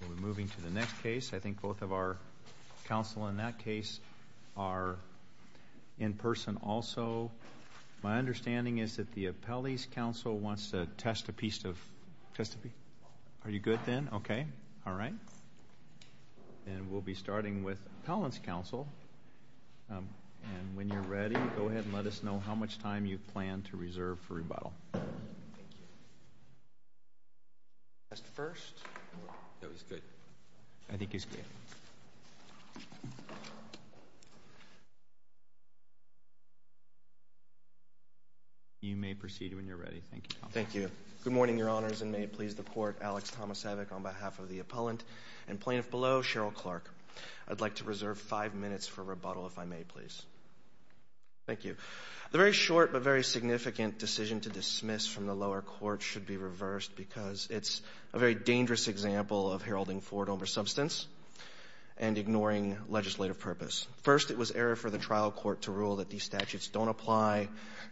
We'll be moving to the next case. I think both of our counsel in that case are in person also. My understanding is that the appellee's counsel wants to test a piece of... Are you good then? Okay. All right. And we'll be starting with appellant's counsel. And when you're ready, go ahead and let us know how much time you plan to reserve for rebuttal. Thank you. Test first. That was good. I think he's good. You may proceed when you're ready. Thank you. Thank you. Good morning, Your Honors, and may it please the Court. Alex Tomasevic on behalf of the appellant and plaintiff below, Cheryl Clark. I'd like to reserve five minutes for rebuttal, if I may, please. Thank you. The very short but very significant decision to dismiss from the lower court should be reversed because it's a very dangerous example of heralding forward over substance and ignoring legislative purpose. First, it was error for the trial court to rule that these statutes don't apply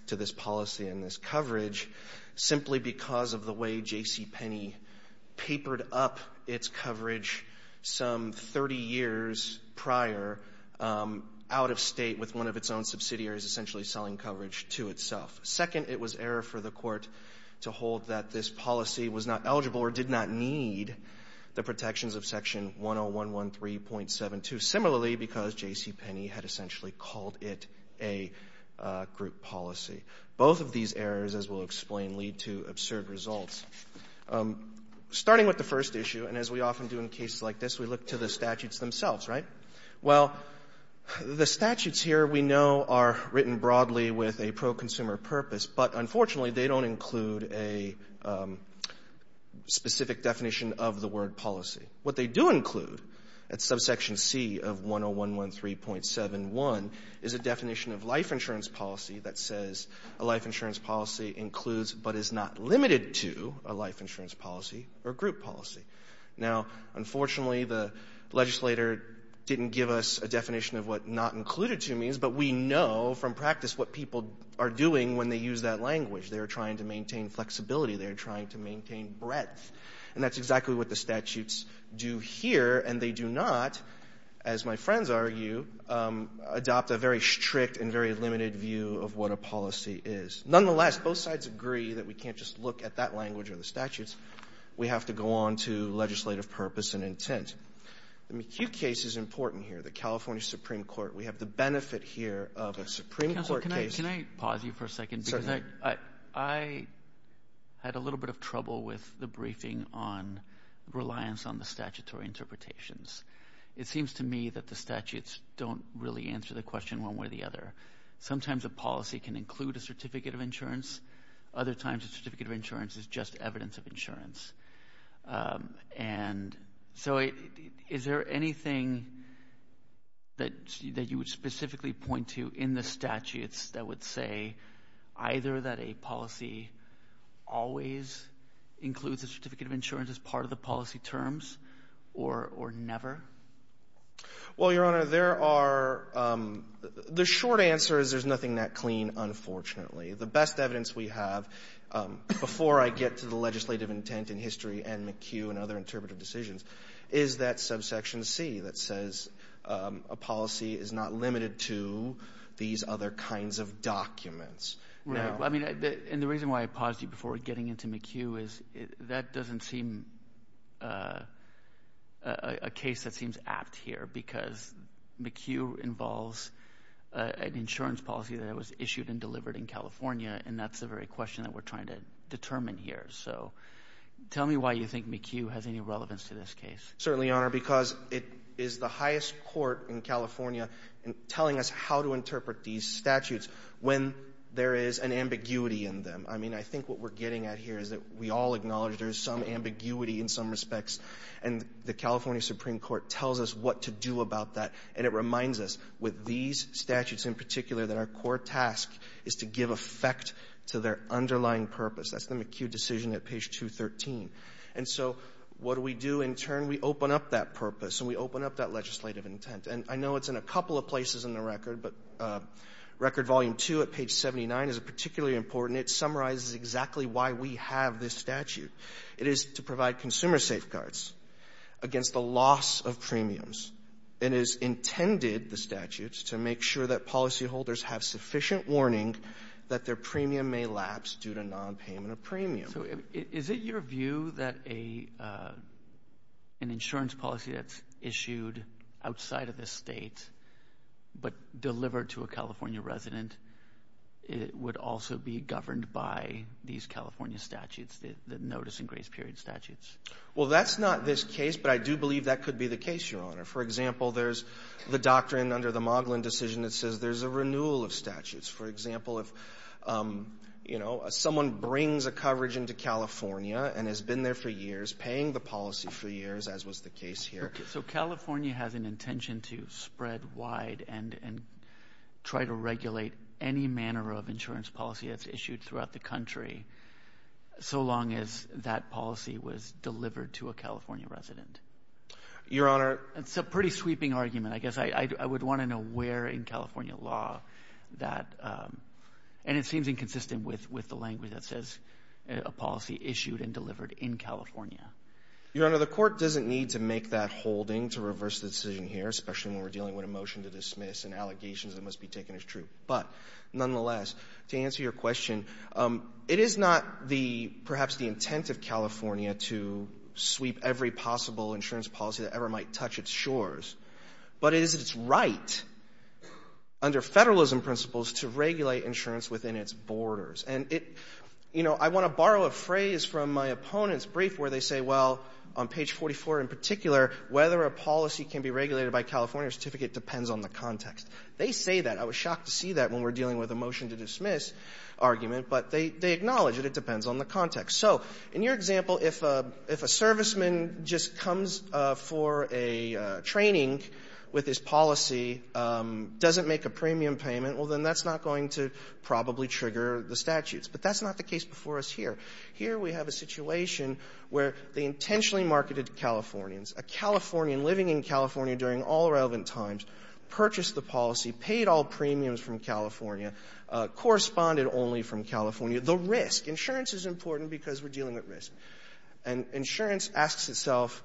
to this policy and this coverage simply because of the way J.C. Penney papered up its coverage some 30 years prior, out-of-state with one of its own subsidiaries essentially selling coverage to itself. Second, it was error for the court to hold that this policy was not eligible or did not need the protections of Section 10113.72, similarly because J.C. Penney had essentially called it a group policy. Both of these errors, as we'll explain, lead to absurd results. Starting with the first issue, and as we often do in cases like this, we look to the statutes themselves, right? Well, the statutes here we know are written broadly with a pro-consumer purpose, but unfortunately they don't include a specific definition of the word policy. What they do include at subsection C of 10113.71 is a definition of life insurance policy that says a life insurance policy includes but is not limited to a life insurance policy or group policy. Now, unfortunately, the legislator didn't give us a definition of what not included to means, but we know from practice what people are doing when they use that language. They are trying to maintain flexibility. They are trying to maintain breadth, and that's exactly what the statutes do here, and they do not, as my friends argue, adopt a very strict and very limited view of what a policy is. Nonetheless, both sides agree that we can't just look at that language or the statutes. We have to go on to legislative purpose and intent. The McHugh case is important here, the California Supreme Court. We have the benefit here of a Supreme Court case. Counsel, can I pause you for a second? Certainly. I had a little bit of trouble with the briefing on reliance on the statutory interpretations. It seems to me that the statutes don't really answer the question one way or the other. Sometimes a policy can include a certificate of insurance. Other times a certificate of insurance is just evidence of insurance. And so is there anything that you would specifically point to in the statutes that would say either that a policy always includes a certificate of insurance as part of the policy terms or never? Well, Your Honor, there are the short answer is there's nothing that clean, unfortunately. The best evidence we have before I get to the legislative intent in history and McHugh and other interpretive decisions is that subsection C that says a policy is not limited to these other kinds of documents. I mean, and the reason why I paused you before getting into McHugh is that doesn't seem a case that seems apt here because McHugh involves an insurance policy that was issued and delivered in California, and that's the very question that we're trying to determine here. So tell me why you think McHugh has any relevance to this case. Certainly, Your Honor, because it is the highest court in California telling us how to interpret these statutes when there is an ambiguity in them. I mean, I think what we're getting at here is that we all acknowledge there's some ambiguity in some respects, and the California Supreme Court tells us what to do about that. And it reminds us with these statutes in particular that our core task is to give effect to their underlying purpose. That's the McHugh decision at page 213. And so what do we do in turn? We open up that purpose and we open up that legislative intent. And I know it's in a couple of places in the record, but Record Volume 2 at page 79 is particularly important. It summarizes exactly why we have this statute. It is to provide consumer safeguards against the loss of premiums. It is intended, the statute, to make sure that policyholders have sufficient warning that their premium may lapse due to nonpayment of premium. So is it your view that an insurance policy that's issued outside of the state but delivered to a California resident would also be governed by these California statutes, the notice and grace period statutes? Well, that's not this case, but I do believe that could be the case, Your Honor. For example, there's the doctrine under the Moglin decision that says there's a renewal of statutes. For example, if someone brings a coverage into California and has been there for years, paying the policy for years, as was the case here. So California has an intention to spread wide and try to regulate any manner of insurance policy that's issued throughout the country. So long as that policy was delivered to a California resident. Your Honor. It's a pretty sweeping argument. I guess I would want to know where in California law that, and it seems inconsistent with the language that says a policy issued and delivered in California. Your Honor, the court doesn't need to make that holding to reverse the decision here, especially when we're dealing with a motion to dismiss and allegations that must be taken as true. But nonetheless, to answer your question, it is not the, perhaps the intent of California to sweep every possible insurance policy that ever might touch its shores, but it is its right under Federalism principles to regulate insurance within its borders. And it, you know, I want to borrow a phrase from my opponent's brief where they say, well, on page 44 in particular, whether a policy can be regulated by California or certificate depends on the context. They say that. I was shocked to see that when we're dealing with a motion to dismiss argument, but they acknowledge that it depends on the context. So in your example, if a serviceman just comes for a training with his policy, doesn't make a premium payment, well, then that's not going to probably trigger the statutes. But that's not the case before us here. Here we have a situation where they intentionally marketed Californians. A Californian living in California during all relevant times purchased the policy, paid all premiums from California, corresponded only from California. The risk, insurance is important because we're dealing with risk. And insurance asks itself,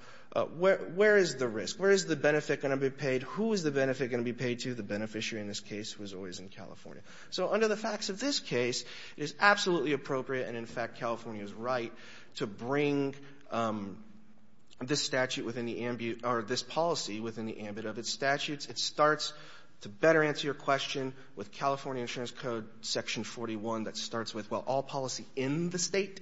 where is the risk? Where is the benefit going to be paid? Who is the benefit going to be paid to? The beneficiary in this case was always in California. So under the facts of this case, it is absolutely appropriate and, in fact, California's right to bring this statute within the ambit or this policy within the ambit of its statutes. It starts to better answer your question with California Insurance Code Section 41 that starts with, well, all policy in the state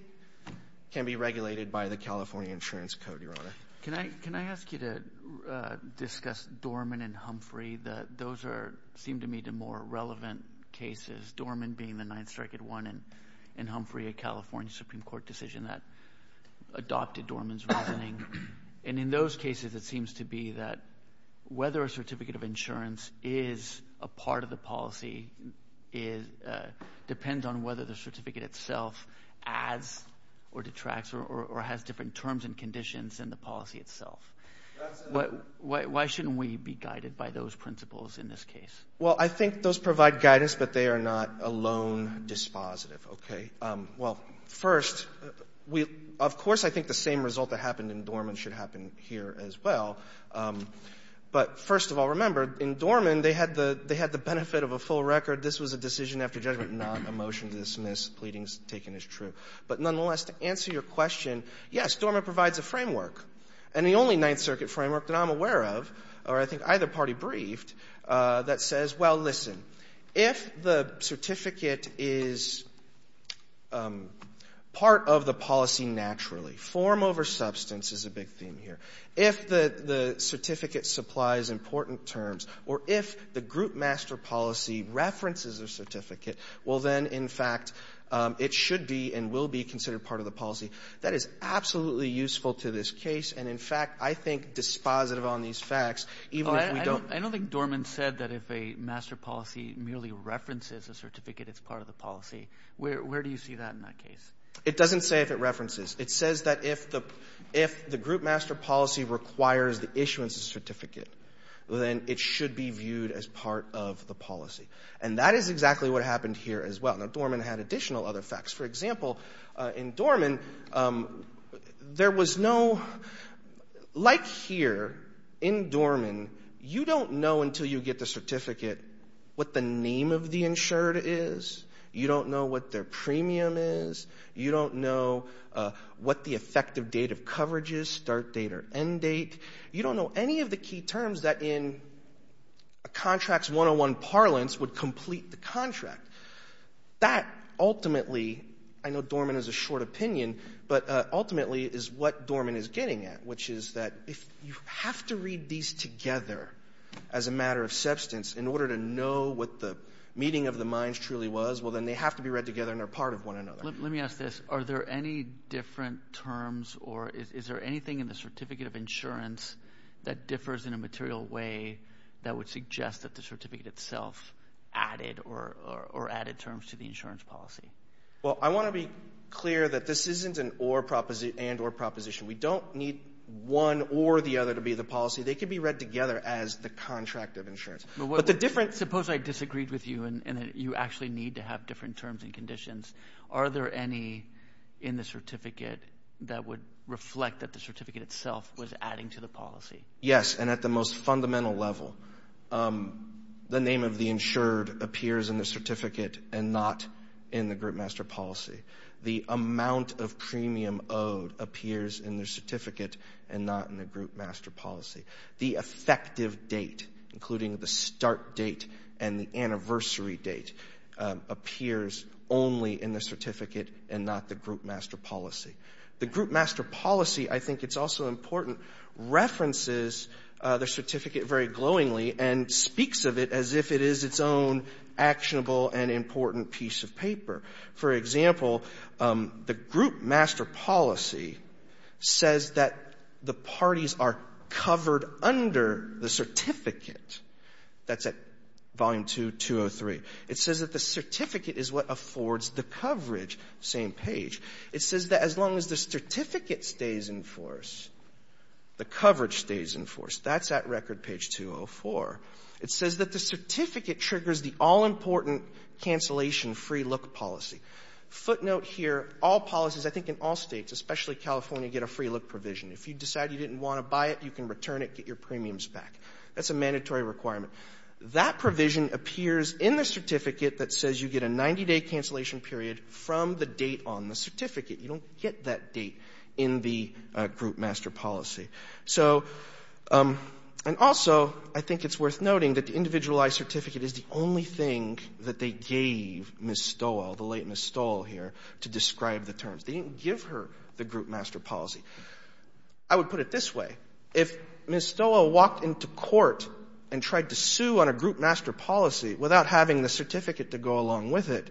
can be regulated by the California Insurance Code, Your Honor. Can I ask you to discuss Dorman and Humphrey? Those seem to me to be more relevant cases, Dorman being the Ninth Circuit one in Humphrey, a California Supreme Court decision that adopted Dorman's reasoning. And in those cases, it seems to be that whether a certificate of insurance is a part of the policy depends on whether the certificate itself adds or detracts or has different terms and conditions than the policy itself. Why shouldn't we be guided by those principles in this case? Well, I think those provide guidance, but they are not alone dispositive. Okay. Well, first, we of course, I think the same result that happened in Dorman should happen here as well. But first of all, remember, in Dorman, they had the benefit of a full record. This was a decision after judgment, not a motion to dismiss. Pleading is taken as true. But nonetheless, to answer your question, yes, Dorman provides a framework. And the only Ninth Circuit framework that I'm aware of, or I think either party briefed, that says, well, listen, if the certificate is part of the policy naturally form over substance is a big theme here. If the certificate supplies important terms or if the group master policy references a certificate, well, then, in fact, it should be and will be considered part of the policy. That is absolutely useful to this case. And in fact, I think dispositive on these facts, even if we don't... I don't think Dorman said that if a master policy merely references a certificate, it's part of the policy. Where do you see that in that case? It doesn't say if it references. It says that if the group master policy requires the issuance of certificate, then it should be viewed as part of the policy. And that is exactly what happened here as well. Now, Dorman had additional other facts. For example, in Dorman, there was no... Like here in Dorman, you don't know until you get the certificate what the name of the insured is. You don't know what their premium is. You don't know what the effective date of coverage is, start date or end date. You don't know any of the key terms that in a contract's 101 parlance would complete the contract. That ultimately, I know Dorman has a short opinion, but ultimately is what Dorman is getting at, which is that if you have to read these together as a matter of substance in order to know what the meeting of the minds truly was, well, then they have to be read together and are part of one another. Let me ask this. Are there any different terms or is there anything in the certificate of itself added or added terms to the insurance policy? Well, I want to be clear that this isn't an or proposition. We don't need one or the other to be the policy. They can be read together as the contract of insurance. But the difference... Suppose I disagreed with you and that you actually need to have different terms and conditions. Are there any in the certificate that would reflect that the certificate itself was adding to the policy? Yes, and at the most fundamental level. The name of the insured appears in the certificate and not in the group master policy. The amount of premium owed appears in the certificate and not in the group master policy. The effective date, including the start date and the anniversary date, appears only in the certificate and not the group master policy. The group master policy, I think it's also important, references the certificate very glowingly and speaks of it as if it is its own actionable and important piece of paper. For example, the group master policy says that the parties are covered under the certificate. That's at Volume 2, 203. It says that the certificate is what affords the coverage, same page. It says that as long as the certificate stays in force, the coverage stays in force. That's at Record Page 204. It says that the certificate triggers the all-important cancellation free look policy. Footnote here, all policies, I think in all States, especially California, get a free look provision. If you decide you didn't want to buy it, you can return it, get your premiums back. That's a mandatory requirement. That provision appears in the certificate that says you get a 90-day cancellation period from the date on the certificate. You don't get that date in the group master policy. And also, I think it's worth noting that the individualized certificate is the only thing that they gave Ms. Stoel, the late Ms. Stoel here, to describe the terms. They didn't give her the group master policy. I would put it this way. If Ms. Stoel walked into court and tried to sue on a group master policy without having the certificate to go along with it,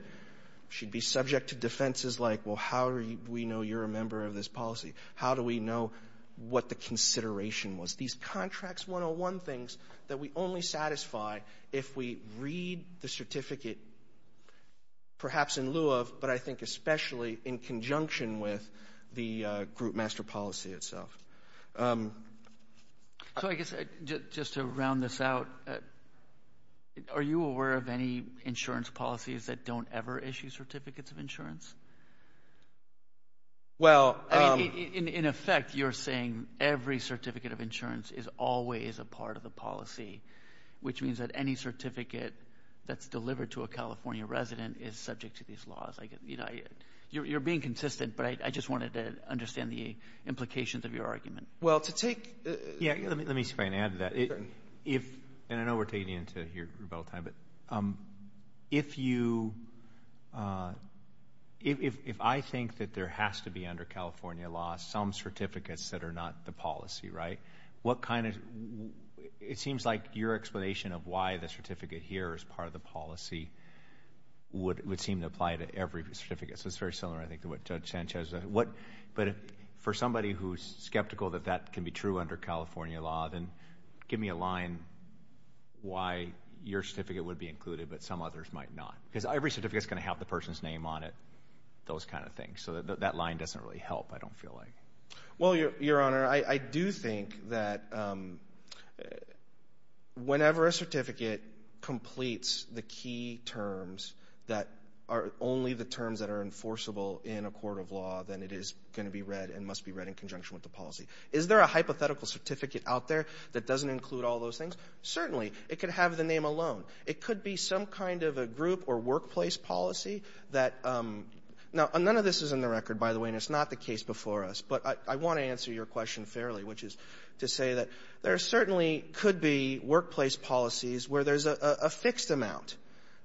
she'd be subject to defenses like, well, how do we know you're a member of this policy? How do we know what the consideration was? These contracts 101 things that we only satisfy if we read the certificate, perhaps in lieu of, but I think especially in conjunction with, the group master policy itself. So I guess just to round this out, are you aware of any insurance policies that don't ever issue certificates of insurance? In effect, you're saying every certificate of insurance is always a part of the policy, which means that any certificate that's delivered to a California resident is subject to these laws. You're being consistent, but I just wanted to understand the implications of your argument. Well, to take Yeah, let me see if I can add to that. And I know we're taking into your rebuttal time, but if I think that there has to be under California law some certificates that are not the policy, right, what kind of, it seems like your explanation of why the certificate here is part of the every certificate. So it's very similar, I think, to what Judge Sanchez said. But for somebody who's skeptical that that can be true under California law, then give me a line why your certificate would be included but some others might not. Because every certificate is going to have the person's name on it, those kind of things. So that line doesn't really help, I don't feel like. Well, Your Honor, I do think that whenever a certificate completes the key terms that are only the terms that are enforceable in a court of law, then it is going to be read and must be read in conjunction with the policy. Is there a hypothetical certificate out there that doesn't include all those things? Certainly. It could have the name alone. It could be some kind of a group or workplace policy that, now, none of this is in the record, by the way, and it's not the case before us. But I want to answer your question fairly, which is to say that there certainly could be workplace policies where there's a fixed amount.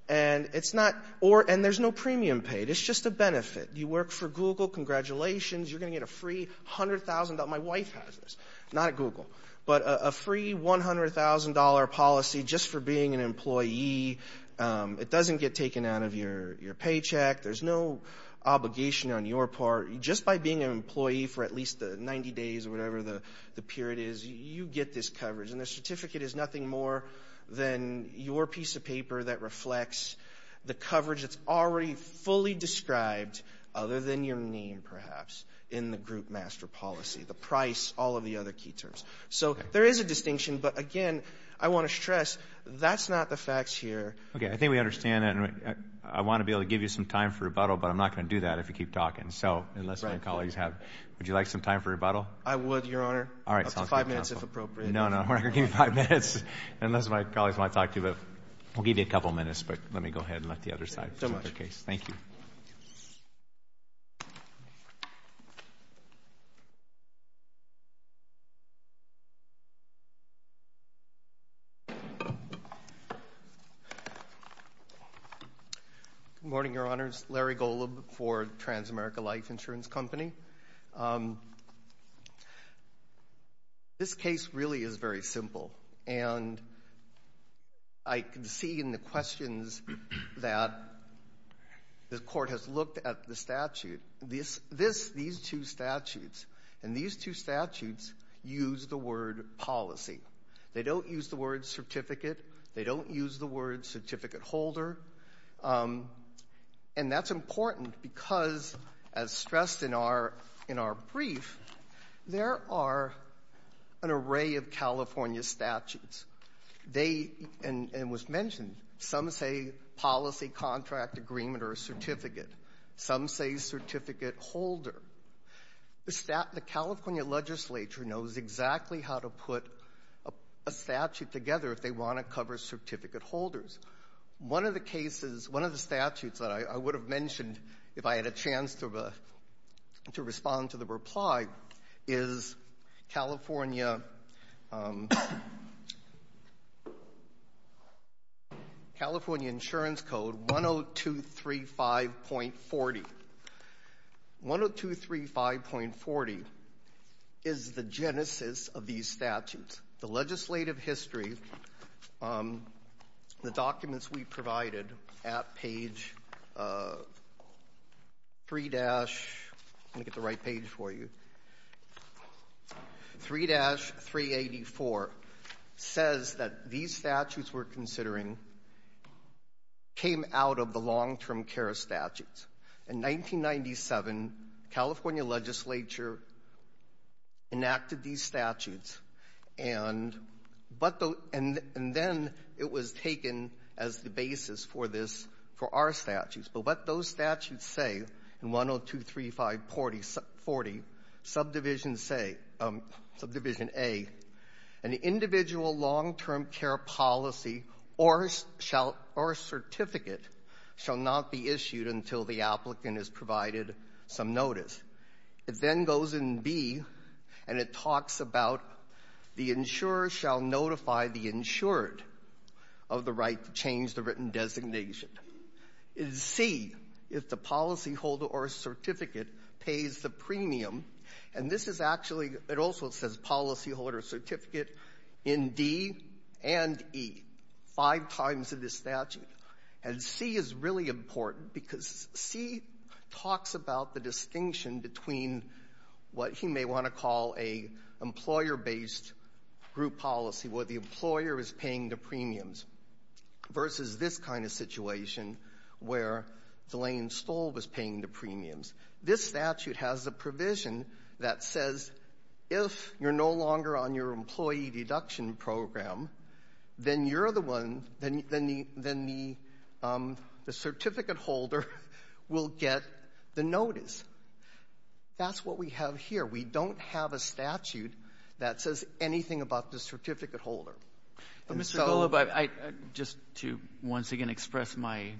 And there's no premium paid. It's just a benefit. You work for Google, congratulations, you're going to get a free $100,000. My wife has this. Not at Google. But a free $100,000 policy just for being an employee. It doesn't get taken out of your paycheck. There's no obligation on your part. Just by being an employee for at least 90 days or whatever the period is, you get this coverage. And the certificate is nothing more than your piece of paper that reflects the coverage that's already fully described, other than your name, perhaps, in the group master policy, the price, all of the other key terms. So there is a distinction. But, again, I want to stress that's not the facts here. Okay. I think we understand that. And I want to be able to give you some time for rebuttal, but I'm not going to do that if you keep talking. Right. Unless my colleagues have. Would you like some time for rebuttal? I would, Your Honor. All right. Five minutes, if appropriate. No, no. We're not going to give you five minutes. Unless my colleagues want to talk to you. We'll give you a couple minutes, but let me go ahead and let the other side present their case. Thank you. Good morning, Your Honors. Larry Golub for Transamerica Life Insurance Company. This case really is very simple. And I can see in the questions that the Court has looked at the statute. This, these two statutes, and these two statutes use the word policy. They don't use the word certificate. They don't use the word certificate holder. And that's important because, as stressed in our, in our brief, there are an array of California statutes. They, and it was mentioned, some say policy contract agreement or a certificate. Some say certificate holder. The California legislature knows exactly how to put a statute together if they want to cover certificate holders. One of the cases, one of the statutes that I would have mentioned if I had a chance to respond to the reply is California, California Insurance Code 10235.40. 10235.40 is the genesis of these statutes. The legislative history, the documents we provided at page 3- I'm going to get the right page for you. 3-384 says that these statutes we're considering came out of the long-term care statutes. In 1997, the California legislature enacted these statutes, and then it was taken as the basis for this, for our statutes. But what those statutes say in 10235.40, subdivision say, subdivision A, an individual long-term care policy or certificate shall not be issued until the applicant has provided some notice. It then goes in B, and it talks about the insurer shall notify the insured of the right to change the written designation. In C, if the policyholder or certificate pays the premium, and this is actually, it also says policyholder certificate in D and E, five times in this statute, and C is really important because C talks about the distinction between what he may want to call a employer-based group policy, where the employer is paying the premiums, versus this kind of situation where Delane Stoll was paying the premiums. This statute has a provision that says if you're no longer on your employee deduction program, then you're the one, then the certificate holder will get the notice. That's what we have here. We don't have a statute that says anything about the certificate holder. But, Mr. Golub, I, just to once again express my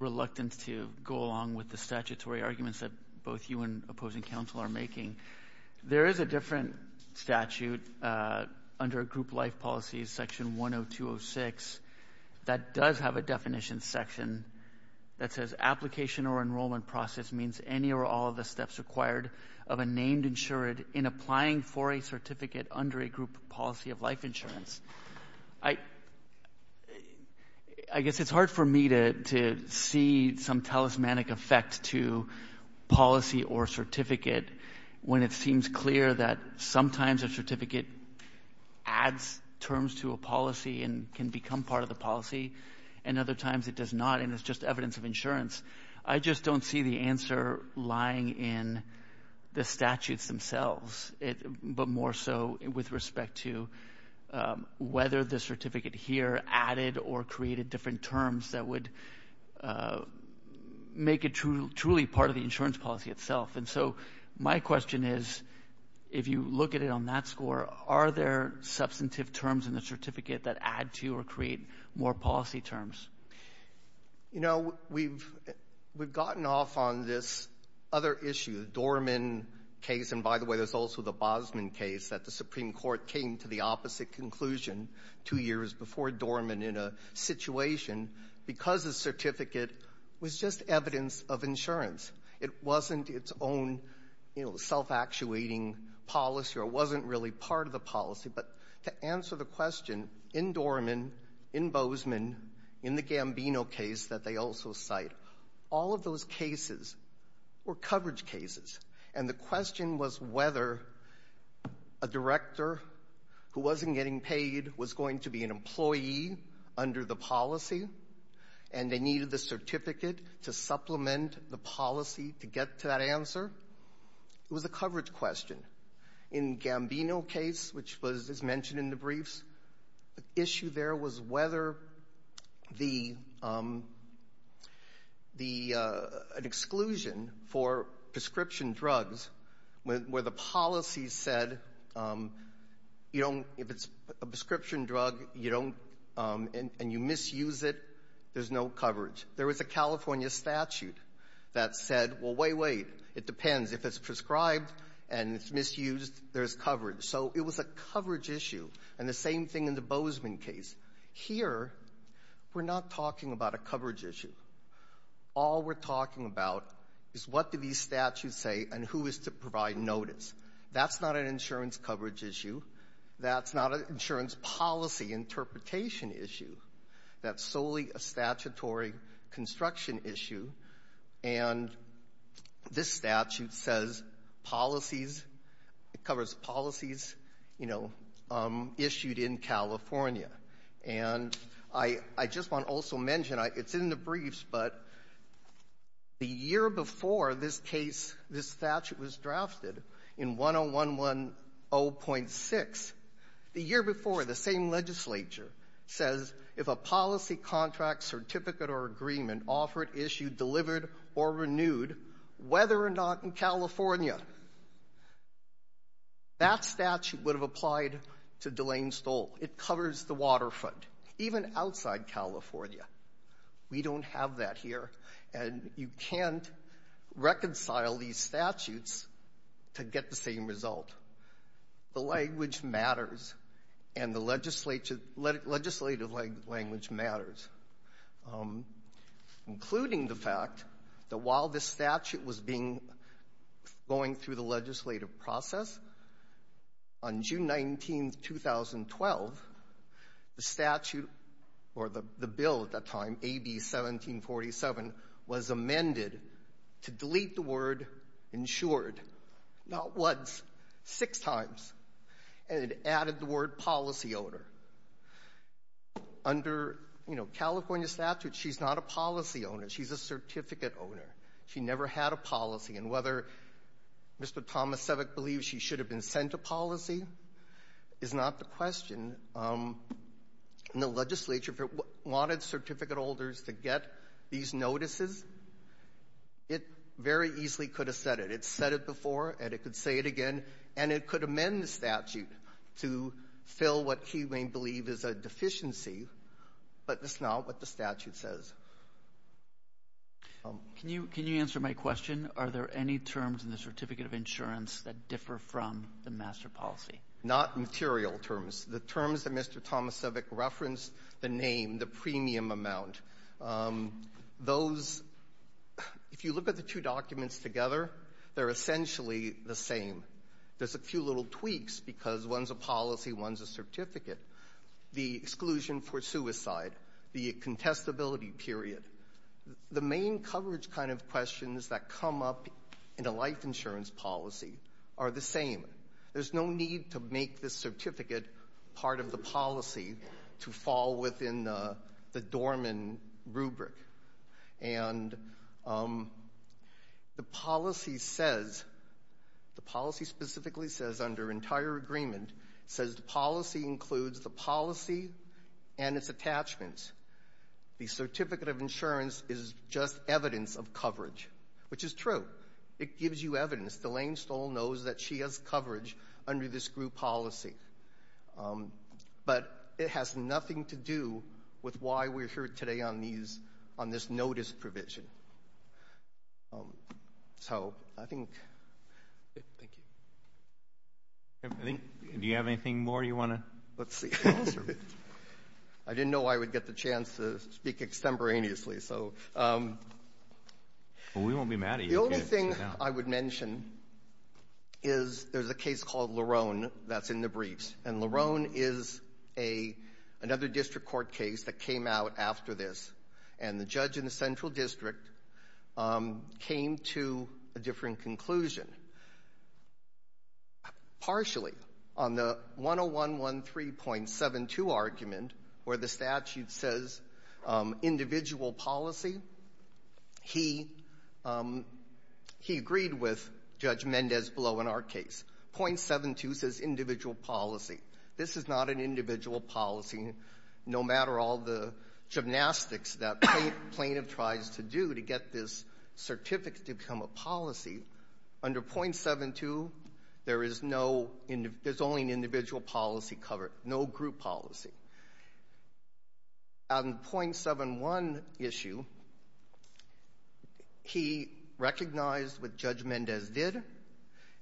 reluctance to go along with the statutory arguments that both you and opposing counsel are making, there is a different statute under a group life policy, section 10206, that does have a definition section that says application or enrollment process means any or all of the steps required of a named insured in applying for a certificate under a group policy of life insurance. I guess it's hard for me to see some talismanic effect to policy or certificate when it seems clear that sometimes a certificate adds terms to a policy and can become part of the policy, and other times it does not, and it's just evidence of insurance. I just don't see the answer lying in the statutes themselves, but more so with respect to whether the certificate here added or created different terms that would make it truly part of the insurance policy itself. And so my question is, if you look at it on that score, are there substantive terms in the certificate that add to or create more policy terms? You know, we've gotten off on this other issue, the Dorman case. And by the way, there's also the Bosman case that the Supreme Court came to the opposite conclusion two years before Dorman in a situation because the certificate was just evidence of insurance. It wasn't its own, you know, self-actuating policy or it wasn't really part of the policy. In the Gambino case that they also cite, all of those cases were coverage cases, and the question was whether a director who wasn't getting paid was going to be an employee under the policy and they needed the certificate to supplement the policy to get to that answer. It was a coverage question. In the Gambino case, which was mentioned in the briefs, the issue there was whether the exclusion for prescription drugs where the policy said if it's a prescription drug and you misuse it, there's no coverage. There was a California statute that said, well, wait, wait. It depends. If it's prescribed and it's misused, there's coverage. So it was a coverage issue. And the same thing in the Bozeman case. Here, we're not talking about a coverage issue. All we're talking about is what do these statutes say and who is to provide notice. That's not an insurance coverage issue. That's not an insurance policy interpretation issue. That's solely a statutory construction issue. And this statute says policies, it covers policies, you know, issued in California. And I just want to also mention, it's in the briefs, but the year before this case, this statute was drafted in 10110.6, the year before, the same legislature says if a policy contract, certificate, or agreement offered, issued, delivered, or renewed, whether or not in California, that statute would have applied to Delane Stoll. It covers the waterfront, even outside California. We don't have that here. And you can't reconcile these statutes to get the same result. The language matters, and the legislative language matters, including the fact that while this statute was going through the legislative process, on June 19, 2012, the statute, or the bill at that time, AB 1747, was amended to delete the word insured, not once, six times. And it added the word policy owner. Under, you know, California statute, she's not a policy owner. She's a certificate owner. She never had a policy. And whether Mr. Thomas Sevak believes she should have been sent a policy is not the question. And the legislature, if it wanted certificate holders to get these notices, it very easily could have said it. It said it before, and it could say it again. And it could amend the statute to fill what he may believe is a deficiency, but that's not what the statute says. Can you answer my question? Are there any terms in the certificate of insurance that differ from the master policy? Not material terms. The terms that Mr. Thomas Sevak referenced, the name, the premium amount, those, if you look at the two documents together, they're essentially the same. There's a few little tweaks because one's a policy, one's a certificate. The exclusion for suicide, the contestability period, the main coverage kind of questions that come up in a life insurance policy are the same. There's no need to make this certificate part of the policy to fall within the Dorman rubric. And the policy says, the policy specifically says under entire agreement, says the policy includes the policy and its attachments. The certificate of insurance is just evidence of coverage, which is true. It gives you evidence. Delane Stoll knows that she has coverage under this group policy. But it has nothing to do with why we're here today on these, on this notice provision. So I think thank you. Do you have anything more you want to? Let's see. I didn't know I would get the chance to speak extemporaneously, so. We won't be mad at you. The only thing I would mention is there's a case called Larone that's in the briefs. And Larone is a, another district court case that came out after this. And the judge in the central district came to a different conclusion. Partially on the 10113.72 argument where the statute says individual policy, he, he agreed with Judge Mendez-Blow in our case. .72 says individual policy. This is not an individual policy. No matter all the gymnastics that plaintiff tries to do to get this certificate to become a policy, under .72, there is no, there's only an individual policy covered, no group policy. On the .71 issue, he recognized what Judge Mendez did.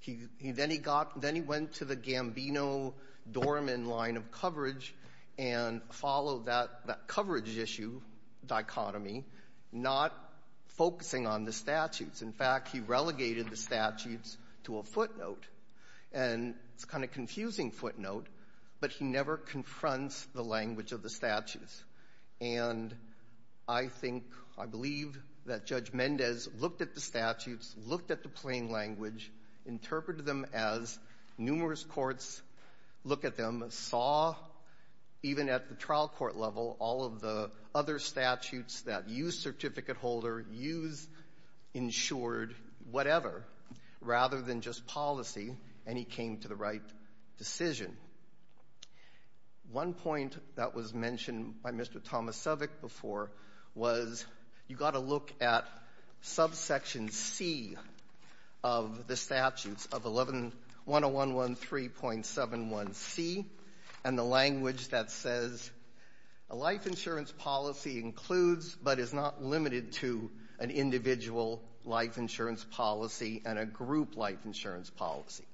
He, then he got, then he went to the Gambino-Dorman line of coverage and followed that, that coverage issue dichotomy, not focusing on the statutes. In fact, he relegated the statutes to a footnote. And it's a kind of confusing footnote, but he never confronts the language of the statutes. And I think, I believe that Judge Mendez looked at the statutes, looked at the plain language, interpreted them as numerous courts look at them, saw, even at the trial court level, all of the other statutes that use certificate holder, use insured, whatever, rather than just policy, and he came to the right decision. One point that was mentioned by Mr. Tomasevic before was you've got to look at subsection C of the statutes of 11, 10113.71C, and the language that says a life insurance policy includes but is not limited to an individual life insurance policy and a group life insurance policy.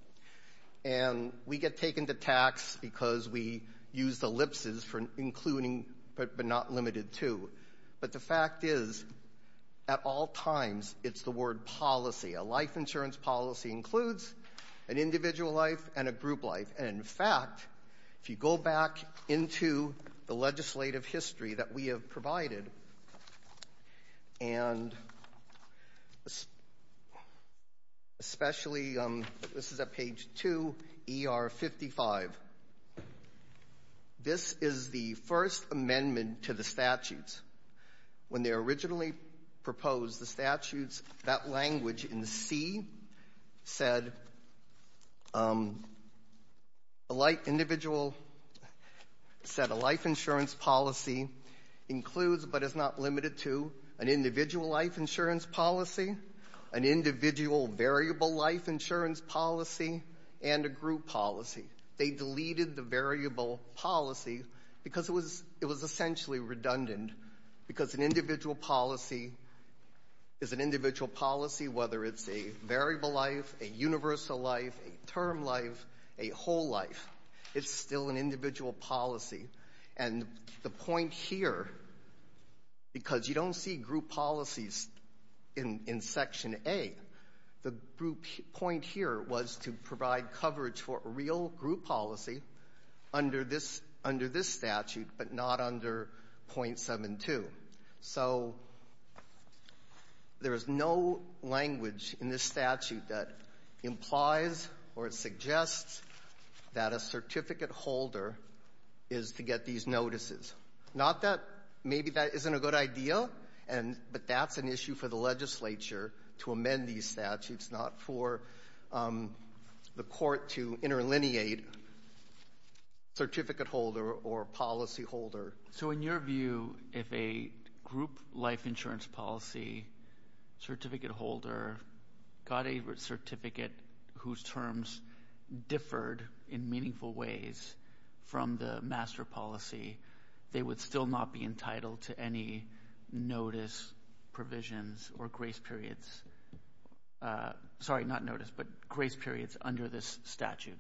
And we get taken to tax because we use the ellipses for including but not limited to. But the fact is, at all times, it's the word policy. A life insurance policy includes an individual life and a group life. And, in fact, if you go back into the legislative history that we have provided, and especially, this is at page 2, ER55, this is the first amendment to the statutes. When they originally proposed the statutes, that language in C said a life individual said a life insurance policy includes but is not limited to an individual life insurance policy, an individual variable life insurance policy, and a group policy. They deleted the variable policy because it was essentially redundant because an individual policy is an individual policy whether it's a variable life, a universal life, a term life, a whole life. It's still an individual policy. And the point here, because you don't see group policies in section A, the group point here was to provide coverage for a real group policy under this statute, but not under .72. So there is no language in this statute that implies or suggests that a certificate holder is to get these notices. Not that maybe that isn't a good idea, but that's an issue for the legislature to amend these statutes, not for the court to interlineate certificate holder or policy holder. So in your view, if a group life insurance policy certificate holder got a certificate whose terms differed in meaningful ways from the master policy, they would still not be sorry, not notice, but grace periods under this statute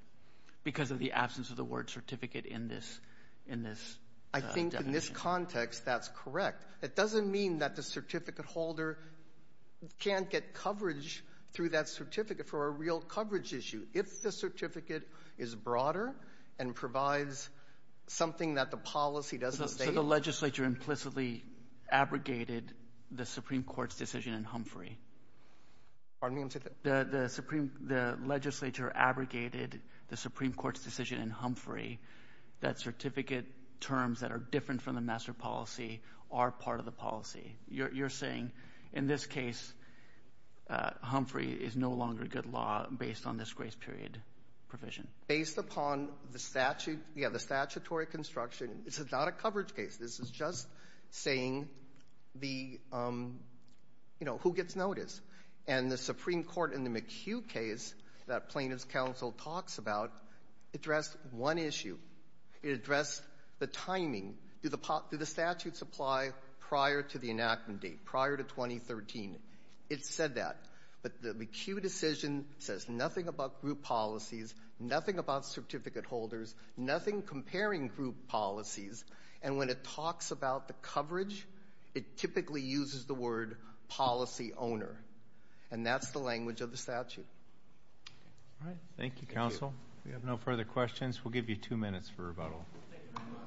because of the absence of the word certificate in this definition. I think in this context, that's correct. It doesn't mean that the certificate holder can't get coverage through that certificate for a real coverage issue. If the certificate is broader and provides something that the policy doesn't state. The legislature implicitly abrogated the Supreme Court's decision in Humphrey. Pardon me? The legislature abrogated the Supreme Court's decision in Humphrey that certificate terms that are different from the master policy are part of the policy. You're saying in this case, Humphrey is no longer a good law based on this grace period provision. Based upon the statute, yeah, the statutory construction, this is not a coverage case. This is just saying the, you know, who gets notice. And the Supreme Court in the McHugh case that Plaintiff's counsel talks about addressed one issue. It addressed the timing. Do the statutes apply prior to the enactment date, prior to 2013? It said that. But the McHugh decision says nothing about group policies, nothing about certificate holders, nothing comparing group policies. And when it talks about the coverage, it typically uses the word policy owner. And that's the language of the statute. All right. Thank you, counsel. We have no further questions. We'll give you two minutes for rebuttal. Thank you very much.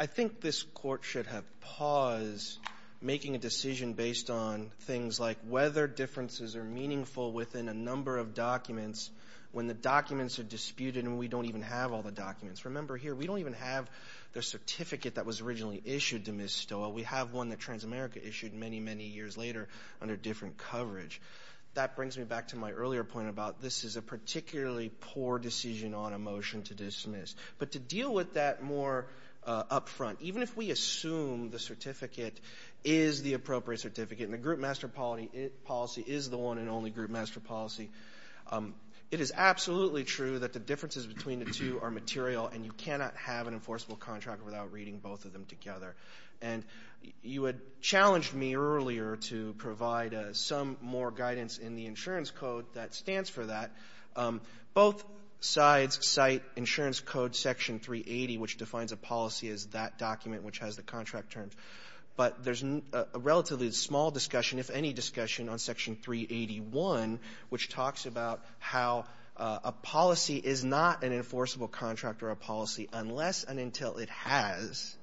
I think this court should have paused making a decision based on things like whether differences are meaningful within a number of documents when the documents are disputed and we don't even have all the documents. Remember here, we don't even have the certificate that was originally issued to Ms. Stoll. Well, we have one that Transamerica issued many, many years later under different coverage. That brings me back to my earlier point about this is a particularly poor decision on a motion to dismiss. But to deal with that more up front, even if we assume the certificate is the appropriate certificate and the group master policy is the one and only group master policy, it is absolutely true that the differences between the two are material and you cannot have an enforceable contract without reading both of them together. And you had challenged me earlier to provide some more guidance in the insurance code that stands for that. Both sides cite insurance code section 380, which defines a policy as that document which has the contract terms. But there's a relatively small discussion, if any discussion, on section 381, which talks about how a policy is not an enforceable contract or a policy unless and until it has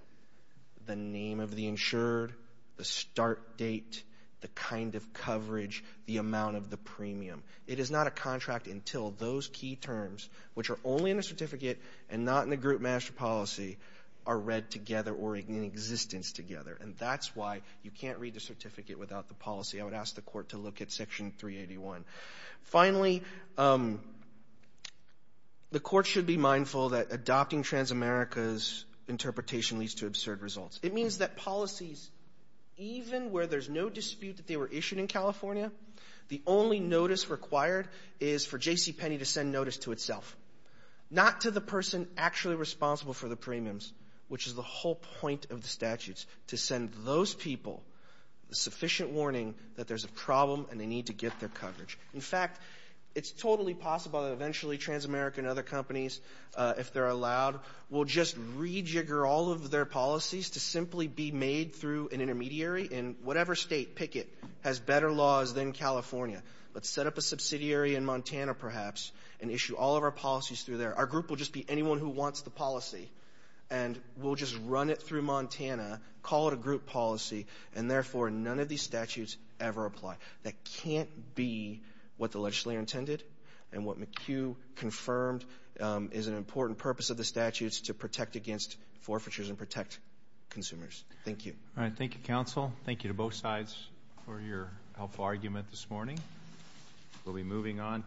the name of the insured, the start date, the kind of coverage, the amount of the premium. It is not a contract until those key terms, which are only in the certificate and not in the group master policy, are read together or in existence together. And that's why you can't read the certificate without the policy. I would ask the court to look at section 381. Finally, the court should be mindful that adopting Transamerica's interpretation leads to absurd results. It means that policies, even where there's no dispute that they were issued in California, the only notice required is for JCPenney to send notice to itself, not to the person actually responsible for the premiums, which is the whole point of the statutes, to send those people sufficient warning that there's a problem and they need to get their coverage. In fact, it's totally possible that eventually Transamerica and other companies, if they're allowed, will just rejigger all of their policies to simply be made through an intermediary in whatever state, pick it, has better laws than California, but set up a subsidiary in Montana, perhaps, and issue all of our policies through there. Our group will just be anyone who wants the policy, and we'll just run it through Montana, call it a group policy, and therefore none of these statutes ever apply. That can't be what the legislature intended and what McHugh confirmed is an important purpose of the statutes to protect against forfeitures and protect consumers. Thank you. All right. Thank you, counsel. Thank you to both sides for your helpful argument this morning. We'll be moving on.